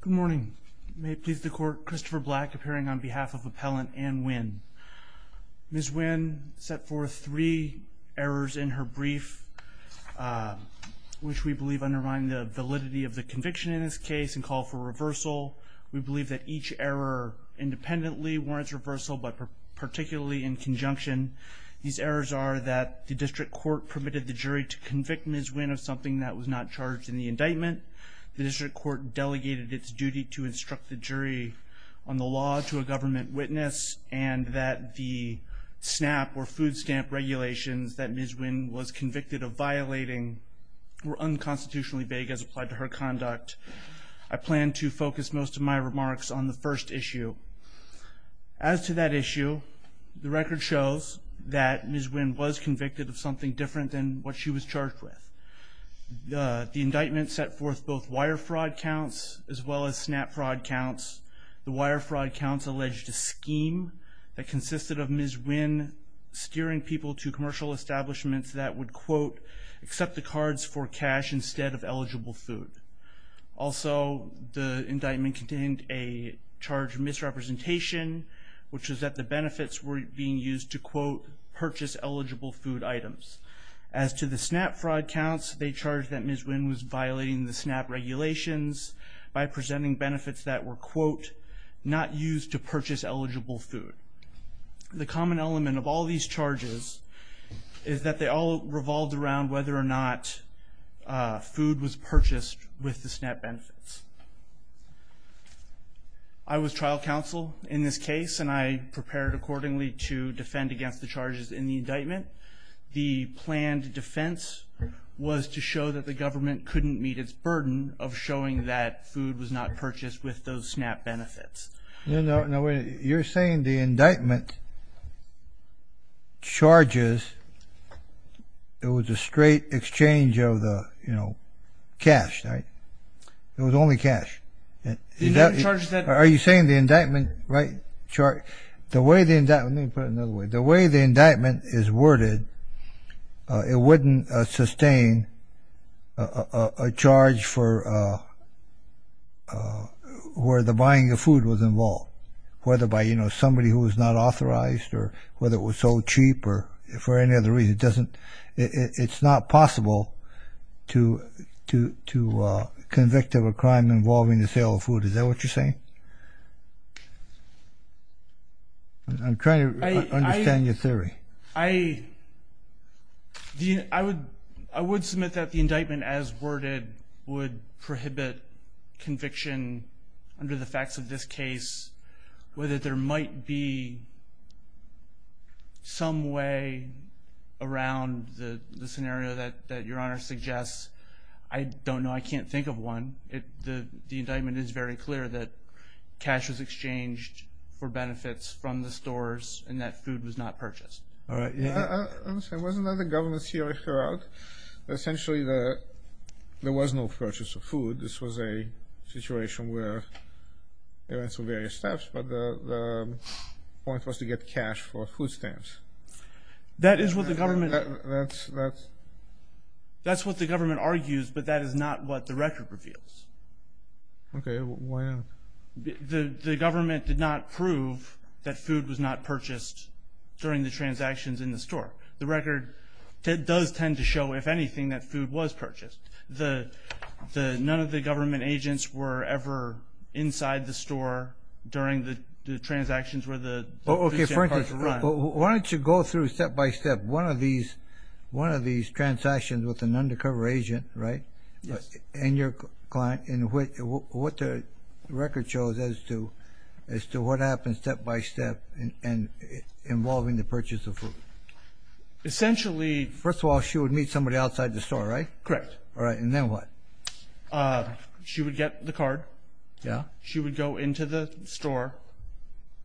Good morning. May it please the court, Christopher Black appearing on behalf of appellant Anh Nguyen. Ms. Nguyen set forth three errors in her brief which we believe undermine the validity of the conviction in this case and call for reversal. We believe that each error independently warrants reversal but particularly in conjunction. These errors are that the district court permitted the jury to convict Ms. Nguyen of something that was not charged in the district court delegated its duty to instruct the jury on the law to a government witness and that the snap or food stamp regulations that Ms. Nguyen was convicted of violating were unconstitutionally vague as applied to her conduct. I plan to focus most of my remarks on the first issue. As to that issue the record shows that Ms. Nguyen was convicted of something different than what she was charged with. The indictment set forth both wire fraud counts as well as snap fraud counts. The wire fraud counts alleged a scheme that consisted of Ms. Nguyen steering people to commercial establishments that would quote accept the cards for cash instead of eligible food. Also the indictment contained a charge of misrepresentation which is that the benefits were being used to quote purchase eligible food items. As to the snap fraud counts they charged that Ms. Nguyen was violating the snap regulations by presenting benefits that were quote not used to purchase eligible food. The common element of all these charges is that they all revolved around whether or not food was purchased with the snap benefits. I was trial counsel in this case and I prepared accordingly to defend against the charges in the indictment. The planned defense was to show that the government couldn't meet its burden of showing that food was not purchased with those snap benefits. You're saying the indictment charges it was a straight exchange of the you know cash right it was only cash. Are you saying the indictment right charge the way the way the indictment is worded it wouldn't sustain a charge for where the buying of food was involved whether by you know somebody who was not authorized or whether it was so cheap or for any other reason it doesn't it's not possible to to to convict of a crime involving the sale of food is that what you're saying? I'm trying to understand your theory. I I would I would submit that the indictment as worded would prohibit conviction under the facts of this case whether there might be some way around the the scenario that that your honor suggests I don't know I can't think of one it the the indictment is very clear that cash was exchanged for benefits from the stores and that food was not purchased. All right yeah there was another government theory throughout essentially the there was no purchase of food this was a situation where there were some various steps but the point was to get cash for food stamps. That is what the government that's that's that's what the government argues but that is not what the record reveals. Okay why not? The government did not prove that food was not purchased during the transactions in the store the record does tend to show if anything that food was purchased the the none of the government agents were ever inside the store during the transactions where the. Okay for instance why don't you go through step-by-step one of these one of these transactions with an undercover agent right? Yes. And your client and what the record shows as to as to what happens step-by-step and involving the purchase of food. Essentially. First of all she would meet somebody outside the store right? Correct. All right and then what? She would get the card. Yeah. She would go into the store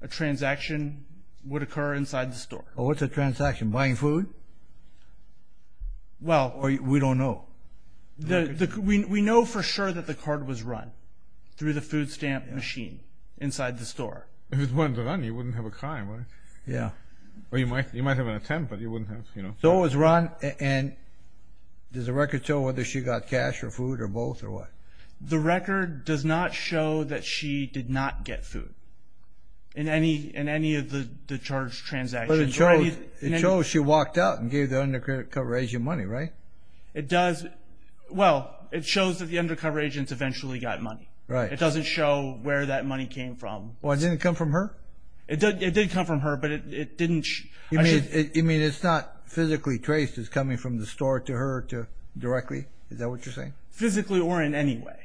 a transaction would occur inside the store. What's a transaction buying food? Well. Or we don't know. The we know for sure that the card was run through the food stamp machine inside the store. If it wasn't run you wouldn't have a crime right? Yeah. Well you might you might have an attempt but you wouldn't have you know. So it was run and does the record show whether she got cash or food or both or what? The record does not show that she did not get food in any in any of the the charged transactions. But it shows it shows she walked out and gave the undercover agent money right? It does well it shows that the undercover agents eventually got money. Right. It doesn't show where that money came from. Well it didn't come from her? It did come from her but it didn't. You mean it's not physically traced as coming from the store to her to directly? Is that what you're saying? Physically or in any way.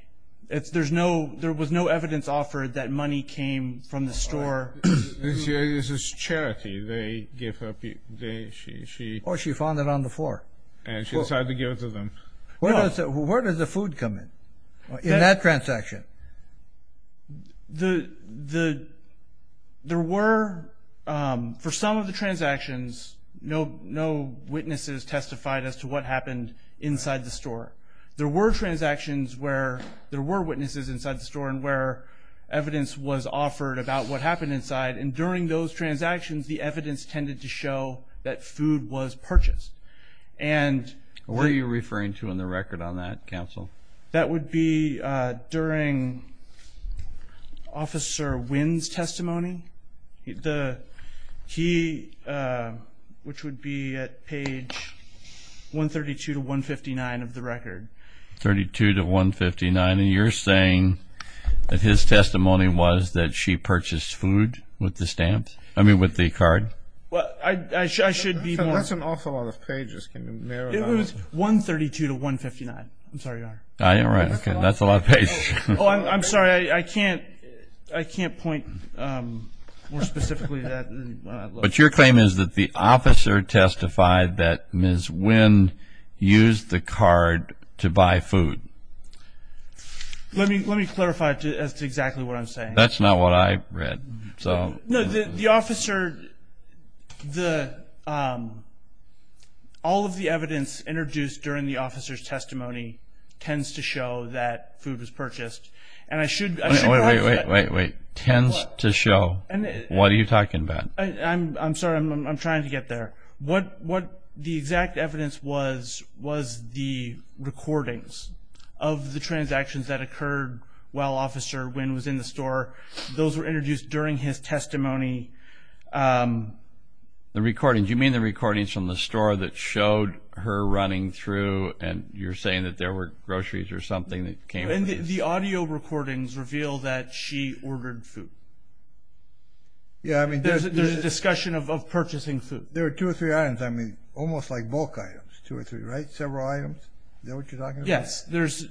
It's there's no there was no evidence offered that money came from the store. This is charity they gave her. Or she found it on the floor. And she decided to give it to them. Where does the food come in in that transaction? The the there were for some of the transactions no no witnesses testified as to what happened inside the store. There were transactions where there were witnesses inside the store and where evidence was offered about what happened inside. And during those transactions the evidence tended to show that food was purchased. And where are you referring to in the record on that counsel? That would be during officer Wynn's testimony. The he which would be at page 132 to 159 of the record. 32 to 159 and you're saying that his testimony was that she purchased food with the stamp? I mean with the card? Well I should be more. That's an awful lot of pages. It was 132 to 159. I'm sorry. All right okay that's a lot of pages. I'm sorry I can't I can't point more specifically. But your officer testified that Ms. Wynn used the card to buy food. Let me let me clarify as to exactly what I'm saying. That's not what I read. So no the officer the all of the evidence introduced during the officer's testimony tends to show that food was purchased. And I should wait wait wait wait tends to show what are you talking about? I'm sorry I'm trying to get there. What what the exact evidence was was the recordings of the transactions that occurred while officer Wynn was in the store. Those were introduced during his testimony. The recordings you mean the recordings from the store that showed her running through and you're saying that there were groceries or something that came The audio recordings reveal that she ordered food. Yeah I mean there's a discussion of purchasing food. There are two or three items I mean almost like bulk items two or three right several items. Is that what you're talking about? Yes there's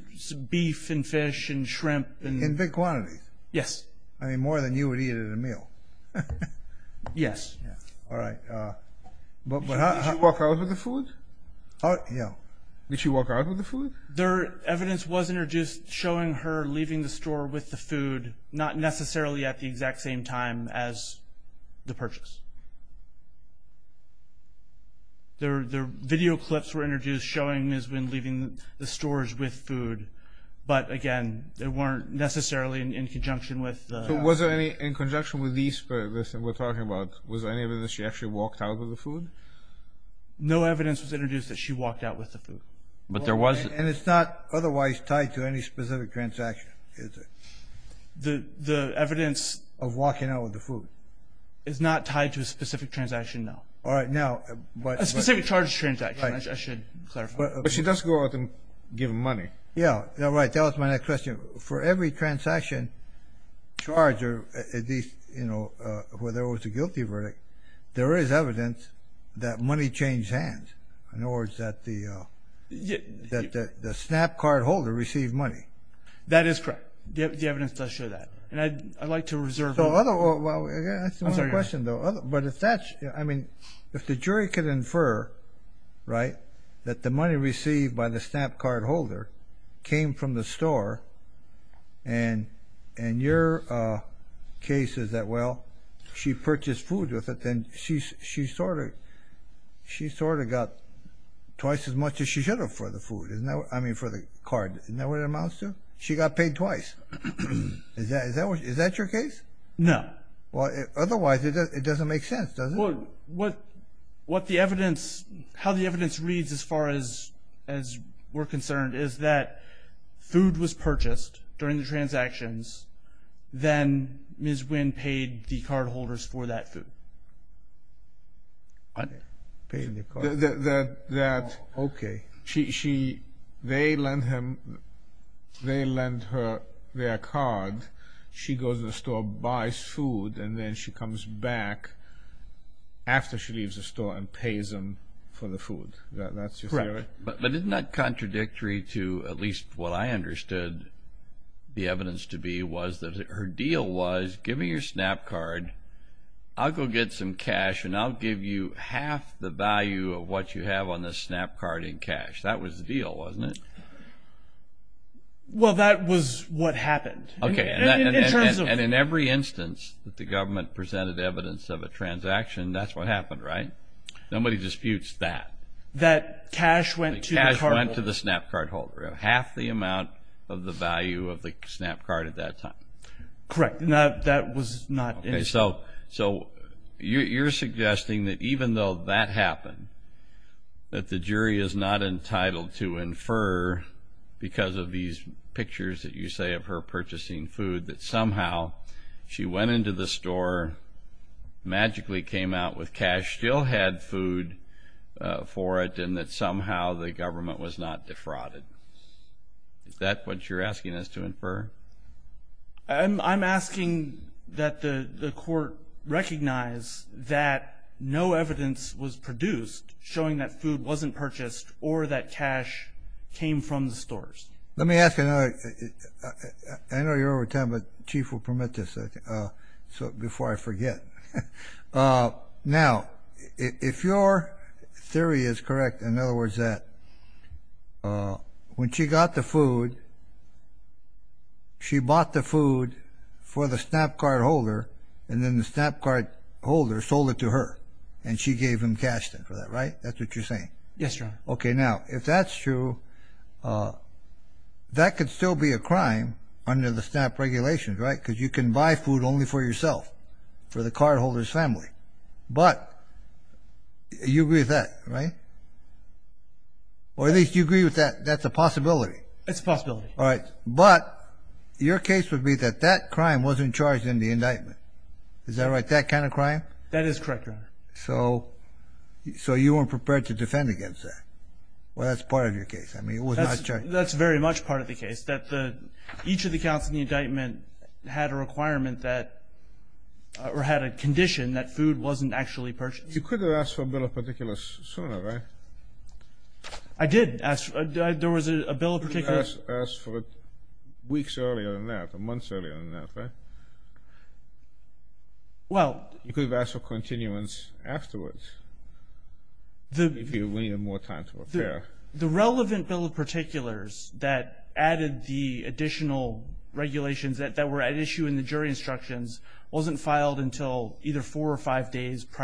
beef and fish and shrimp. In big quantities? Yes. I mean more than you would eat at a meal. Yes. All right. But did she walk out with the food? Oh yeah. Did she walk out with the showing her leaving the store with the food not necessarily at the exact same time as the purchase. The video clips were introduced showing Ms. Wynn leaving the stores with food but again they weren't necessarily in conjunction with. So was there any in conjunction with this and we're talking about was there any evidence that she actually walked out with the food? No evidence was introduced that she walked out with the food. But there was. And it's not otherwise tied to any specific transaction is it? The evidence of walking out with the food. It's not tied to a specific transaction no. All right now. A specific charges transaction. I should clarify. But she does go out and give money. Yeah right that was my next question. For every transaction charge or at least you know where there was a guilty verdict there is evidence that money changed hands. In other words that the the snap card holder received money. That is correct. The evidence does show that. And I'd like to reserve. But if that's I mean if the jury could infer right that the money received by the snap card holder came from the store and and your case is that well she purchased food with it then she she sort of she sort of got twice as much as she should have for the food. Isn't that what I mean for the card? Isn't that what it amounts to? She got paid twice. Is that is that what is that your case? No. Well otherwise it doesn't make sense does it? Well what what the evidence how the evidence reads as far as as we're concerned is that food was purchased during the transactions then Ms. Wynn paid the card holders for that food. Okay. She they lend him they lend her their card she goes to the store buys food and then she comes back after she leaves the store and pays them for the food. That's correct. But isn't that contradictory to at least what I understood the evidence to be was that her deal was give me your snap card I'll go get some cash and I'll give you half the value of what you have on this snap card in cash. That was the deal wasn't it? Well that was what happened. Okay. And in every instance that the government presented evidence of a transaction that's what happened right? Nobody disputes that. That cash went to the snap card holder. Half the amount of the value of the snap card at that time. Correct. Now that was not. So so you're suggesting that even though that happened that the jury is not entitled to infer because of these pictures that you say of her purchasing food that somehow she went into the store magically came out with cash still had food for it and that somehow the defrauded. Is that what you're asking us to infer? I'm asking that the court recognize that no evidence was produced showing that food wasn't purchased or that cash came from the stores. Let me ask another. I know you're over time but chief will permit this so before I forget. Now if your theory is correct in other words that when she got the food she bought the food for the snap card holder and then the snap card holder sold it to her and she gave him cash then for that right? That's what you're saying? Yes your honor. Okay now if that's true that could still be a crime under the snap regulations right because you can buy food only for yourself for the card holders family but you agree with that right? Or at least you agree with that that's a possibility. It's a possibility. All right but your case would be that that crime wasn't charged in the indictment. Is that right that kind of crime? That is correct your honor. So so you weren't prepared to defend against that? Well that's part of your case I mean it was not charged. That's very much part of the case that the each of the counts in the indictment had a requirement that or had a condition that food wasn't actually purchased. You could have asked for a bill of particulars sooner right? I did ask there was a bill of particulars. You could have asked for it weeks earlier than that or months earlier than that right? Well you could have asked for continuance afterwards. The relevant bill of particulars that added the additional regulations that were at issue in the prior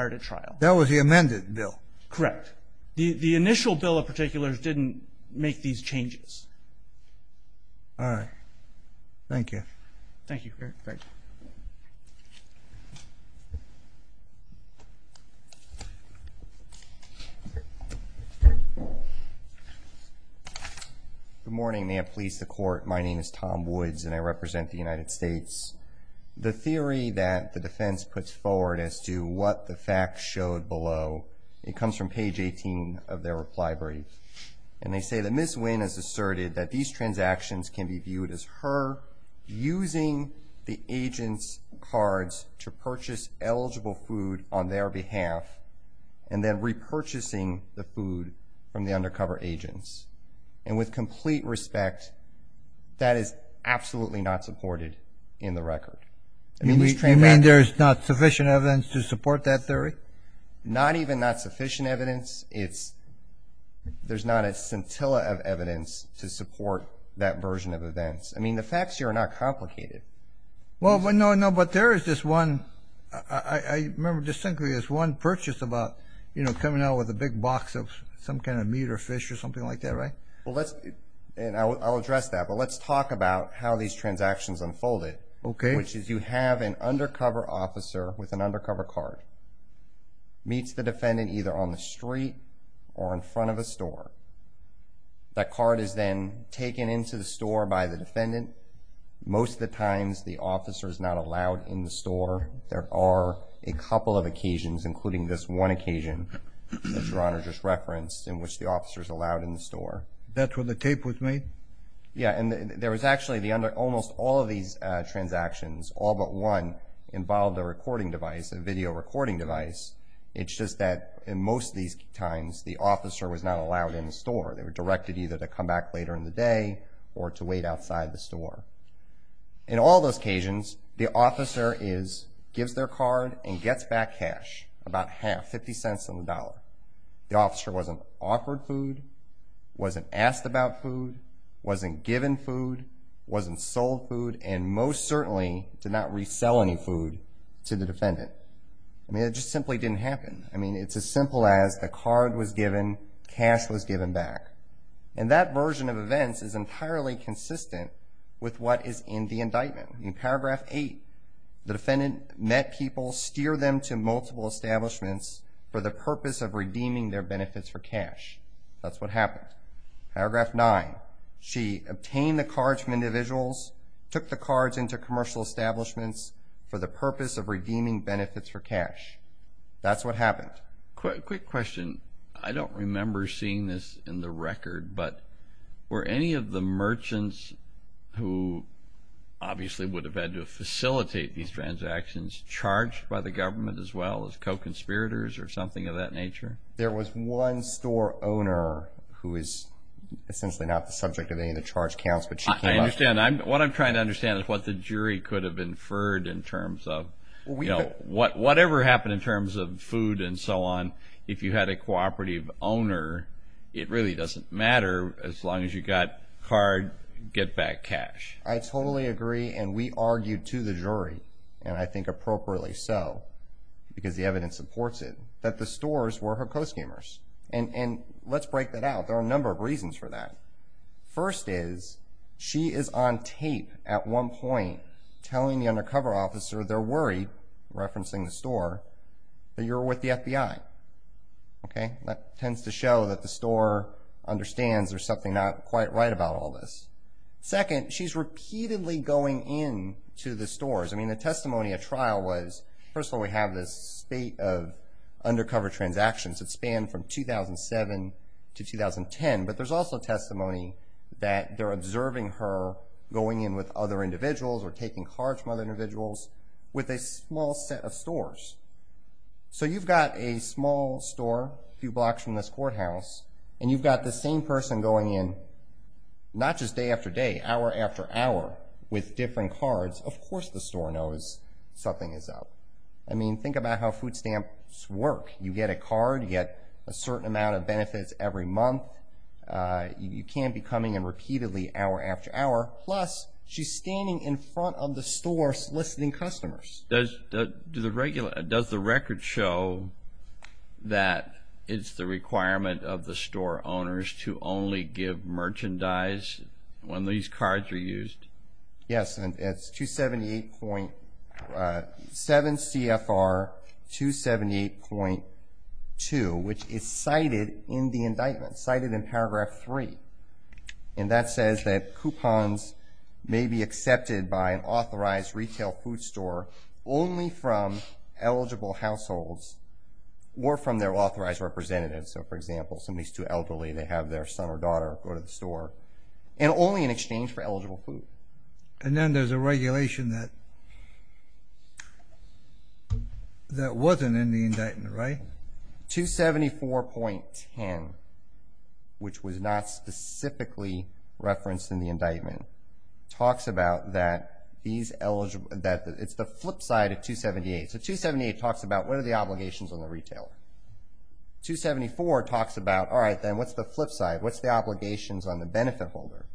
to trial. That was the amended bill? Correct. The the initial bill of particulars didn't make these changes. All right thank you. Thank you. Good morning may it please the court my name is Tom Woods and I represent the facts showed below. It comes from page 18 of their reply brief and they say that Ms. Wynn has asserted that these transactions can be viewed as her using the agents cards to purchase eligible food on their behalf and then repurchasing the food from the undercover agents and with complete respect that is absolutely not supported in the record. You mean there's not sufficient evidence to support that theory? Not even not sufficient evidence it's there's not a scintilla of evidence to support that version of events. I mean the facts here are not complicated. Well but no no but there is this one I remember distinctly this one purchase about you know coming out with a big box of some kind of meat or fish or something like that right? Well let's and I'll address that but let's talk about how these transactions unfolded. Okay. Which is you have an undercover officer with an undercover card meets the defendant either on the street or in front of a store. That card is then taken into the store by the defendant. Most of the times the officer is not allowed in the store. There are a couple of occasions including this one occasion that your honor just referenced in which the officers allowed in the store. That's when the tape was made? Yeah and there was actually the under almost all of these transactions all but one involved a recording device a video recording device. It's just that in most of these times the officer was not allowed in the store. They were directed either to come back later in the day or to wait outside the store. In all those occasions the officer is gives their card and gets back cash about half 50 cents on the dollar. The officer wasn't offered food wasn't asked about food wasn't given food wasn't sold food and most certainly did not resell any food to the defendant. I mean it just simply didn't happen. I mean it's as simple as the card was given cash was given back and that version of events is entirely consistent with what is in the indictment. In paragraph 8 the defendant met people steer them to multiple establishments for the purpose of redeeming their benefits for cash. That's what happened. Paragraph 9 she obtained the cards from individuals took the cards into commercial establishments for the purpose of redeeming benefits for cash. That's what happened. Quick question I don't remember seeing this in the record but were any of the merchants who obviously would have had to facilitate these transactions charged by the government as well as co-conspirators or something of that nature? There was one store owner who is essentially not the subject of any of the charge counts. I understand what I'm trying to understand is what the jury could have inferred in terms of you know what whatever happened in terms of food and so on if you had a cooperative owner it really doesn't matter as long as you got card get back cash. I totally agree and we argued to the jury and I think appropriately so because the evidence supports it that the stores were her co-scammers and and let's break that out there are a number of reasons for that. First is she is on tape at one point telling the undercover officer they're worried referencing the store that you're with the FBI. Okay that tends to show that the store understands there's not quite right about all this. Second she's repeatedly going in to the stores I mean the testimony at trial was first of all we have this state of undercover transactions that span from 2007 to 2010 but there's also testimony that they're observing her going in with other individuals or taking cards from other individuals with a small set of stores. So you've got a small store a few blocks from this courthouse and you've got the same person going in not just day after day hour after hour with different cards of course the store knows something is up. I mean think about how food stamps work you get a card yet a certain amount of benefits every month you can't be coming in repeatedly hour after hour plus she's standing in front of the store soliciting customers. Does the record show that it's the requirement of the store owners to only give merchandise when these cards are used? Yes and it's 278.7 CFR 278.2 which is cited in the indictment cited in paragraph 3 and that says that coupons may be accepted by an authorized retail food store only from eligible households or from their authorized representatives so for example somebody's too elderly they have their son or daughter go to the store and only in exchange for eligible food. And then there's a regulation that that wasn't in the indictment right? 274.10 which was not specifically referenced in the indictment talks about that these eligible that it's the flip side of 278. So 278 talks about what are the obligations on the retailer. 274 talks about all right then what's the flip side what's the obligations on the benefit holder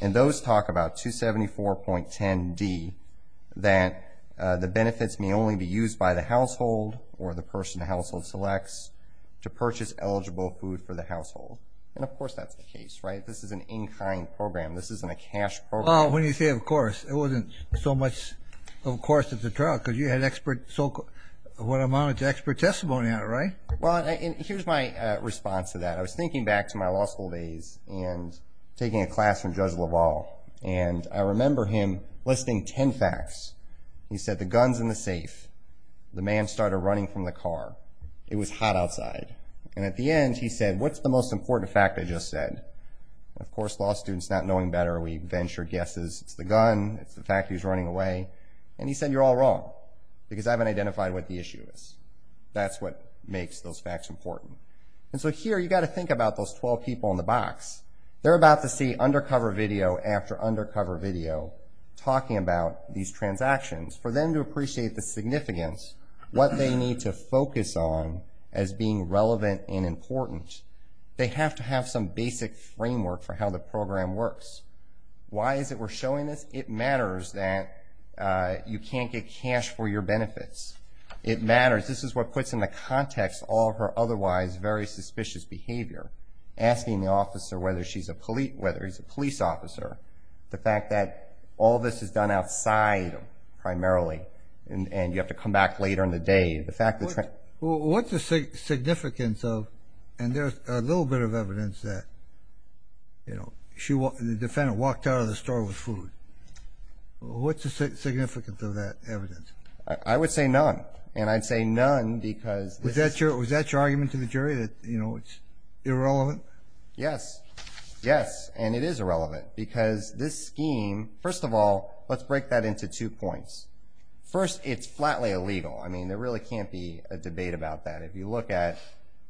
and those talk about 274.10 D that the benefits may only be used by the household or the person household selects to purchase eligible food for the household and of course that's the case right this is an in-kind program this isn't a cash program. Well when you say of course it wasn't so much of course it's a trial because you had expert so what amount of expert testimony out right? Well here's my response to that I was thinking back to my law school days and taking a class from Judge LaValle and I remember him listing ten facts he said the guns in the safe the man started running from the car it was hot outside and at the end he said what's the most important fact I just said of course law students not knowing better we venture guesses it's the gun it's the fact he's running away and he said you're all wrong because I haven't identified what the issue is that's what makes those facts important and so here you got to think about those 12 people in the box they're about to see undercover video after undercover video talking about these transactions for them to appreciate the significance what they need to focus on as being relevant and important they have to have some basic framework for how the program works why is it we're showing this it matters that you can't get cash for your benefits it matters this is what puts in the context all her otherwise very suspicious behavior asking the officer whether she's a police whether he's a police officer the fact that all this is done outside primarily and you have to come back later in the day the fact that what's the significance of and there's a little bit of evidence that you know she walked in the defendant walked out of the store with food what's the significance of that evidence I would say none and I'd say none because was that your was that your argument to the jury that you know it's irrelevant yes yes and it is irrelevant because this scheme first of all let's break that into two points first it's flatly illegal I mean there really can't be a debate about that if you look at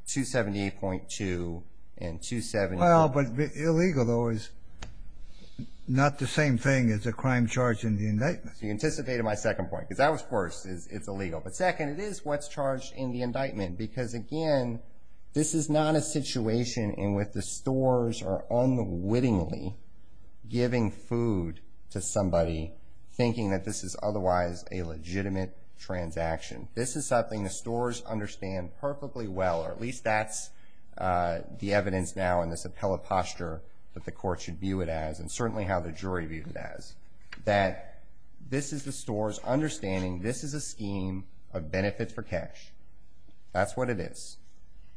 two seventy eight point two and two seven well but illegal though is not the same thing as a crime charge in the indictment you anticipated my second point because that was first is it's illegal but second it is what's charged in the indictment because again this is not a situation and with the stores are unwittingly giving food to somebody thinking that this is otherwise a transaction this is something the stores understand perfectly well or at least that's the evidence now in this appellate posture that the court should view it as and certainly how the jury viewed it as that this is the stores understanding this is a scheme of benefits for cash that's what it is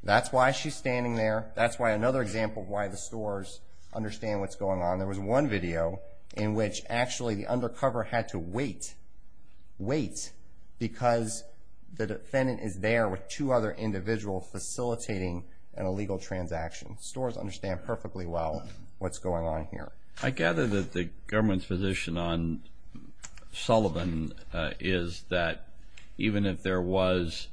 that's why she's standing there that's why another example why the stores understand what's going on there was one video in which actually the undercover had to wait wait because the defendant is there with two other individuals facilitating an illegal transaction stores understand perfectly well what's going on here I gather that the government's position on Sullivan is that even if there was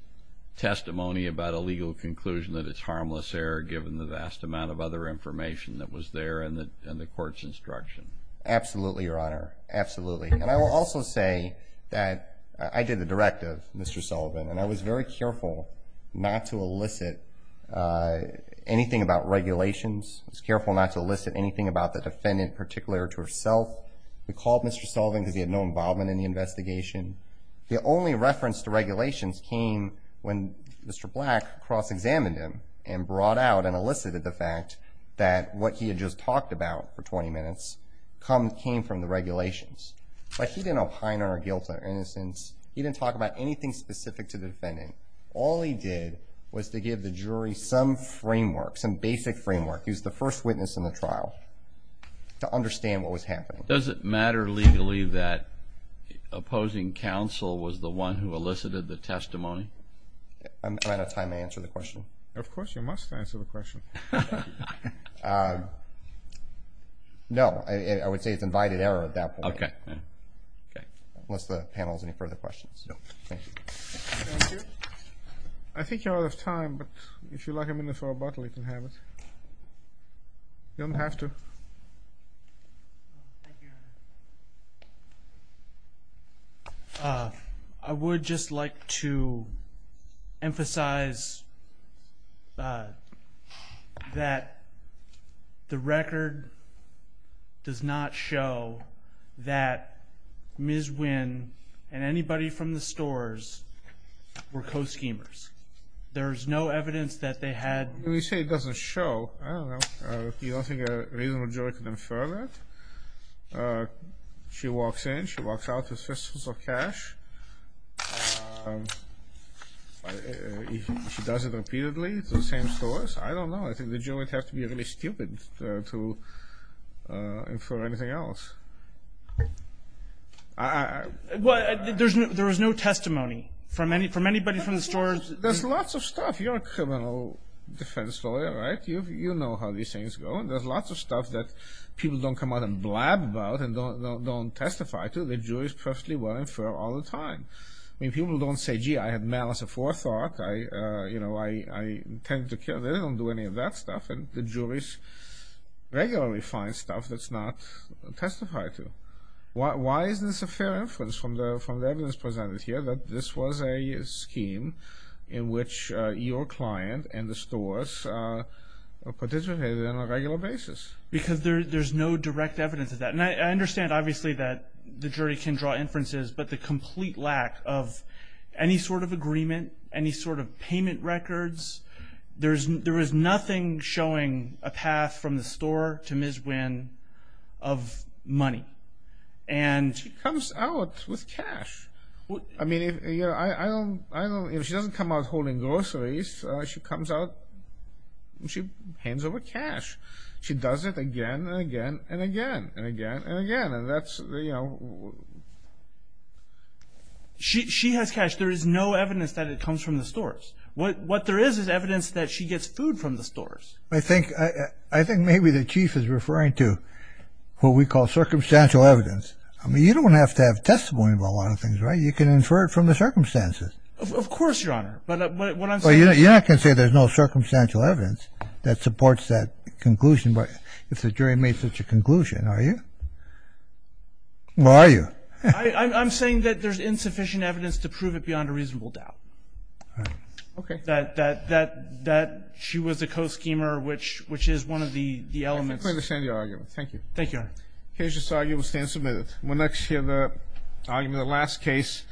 testimony about a legal conclusion that it's harmless error given the vast amount of other information that was there and that and courts instruction absolutely your honor absolutely and I will also say that I did the directive mr. Sullivan and I was very careful not to elicit anything about regulations it's careful not to elicit anything about the defendant particular to herself we called mr. Sullivan because he had no involvement in the investigation the only reference to regulations came when mr. black cross-examined him and brought out and elicited the fact that what he just talked about for 20 minutes come came from the regulations but he didn't opine our guilt or innocence he didn't talk about anything specific to the defendant all he did was to give the jury some framework some basic framework he was the first witness in the trial to understand what was happening does it matter legally that opposing counsel was the one who elicited the testimony I'm no I would say it's invited error at that okay okay what's the panel's any further questions I think you're out of time but if you like I'm in this for a bottle you can have it you don't have to I would just like to emphasize that the record does not show that ms. Wynn and anybody from the stores were co-schemers there's no evidence that they had we she walks in she walks out with fistfuls of cash she does it repeatedly it's the same stores I don't know I think the jury would have to be really stupid to infer anything else I what there's no there was no testimony from any from anybody from the stores there's lots of stuff you're a criminal defense lawyer right you know how these things go and there's lots of stuff that people don't come out and blab about and don't don't testify to the jury's perfectly well infer all the time I mean people don't say gee I had malice of forethought I you know I tend to kill they don't do any of that stuff and the juries regularly find stuff that's not testified to why is this a fair inference from the from the evidence presented here that this was a scheme in which your client and the stores participated in a regular basis because there's no direct evidence of that and I understand obviously that the jury can draw inferences but the complete lack of any sort of agreement any sort of payment records there's there is nothing showing a path from the store to Ms. Wynn of money and she comes out with cash I mean if you know I don't know if she doesn't come out holding groceries she comes out she hands over cash she does it again and again and again and again and again and that's she has cash there is no evidence that it comes from the stores what what there is is evidence that she gets food from the stores I think I think maybe the chief is referring to what we call circumstantial evidence I mean you don't have to have testimony about a lot of things right you can infer it from the circumstances of course your honor but yeah I can say there's no circumstantial evidence that supports that conclusion but if the jury made such a conclusion are you where are you I'm saying that there's insufficient evidence to prove it beyond a reasonable doubt okay that that that that she was a co-schemer which which is one of the the elements thank you thank you here's just argue will stand submitted when next year the argument the last case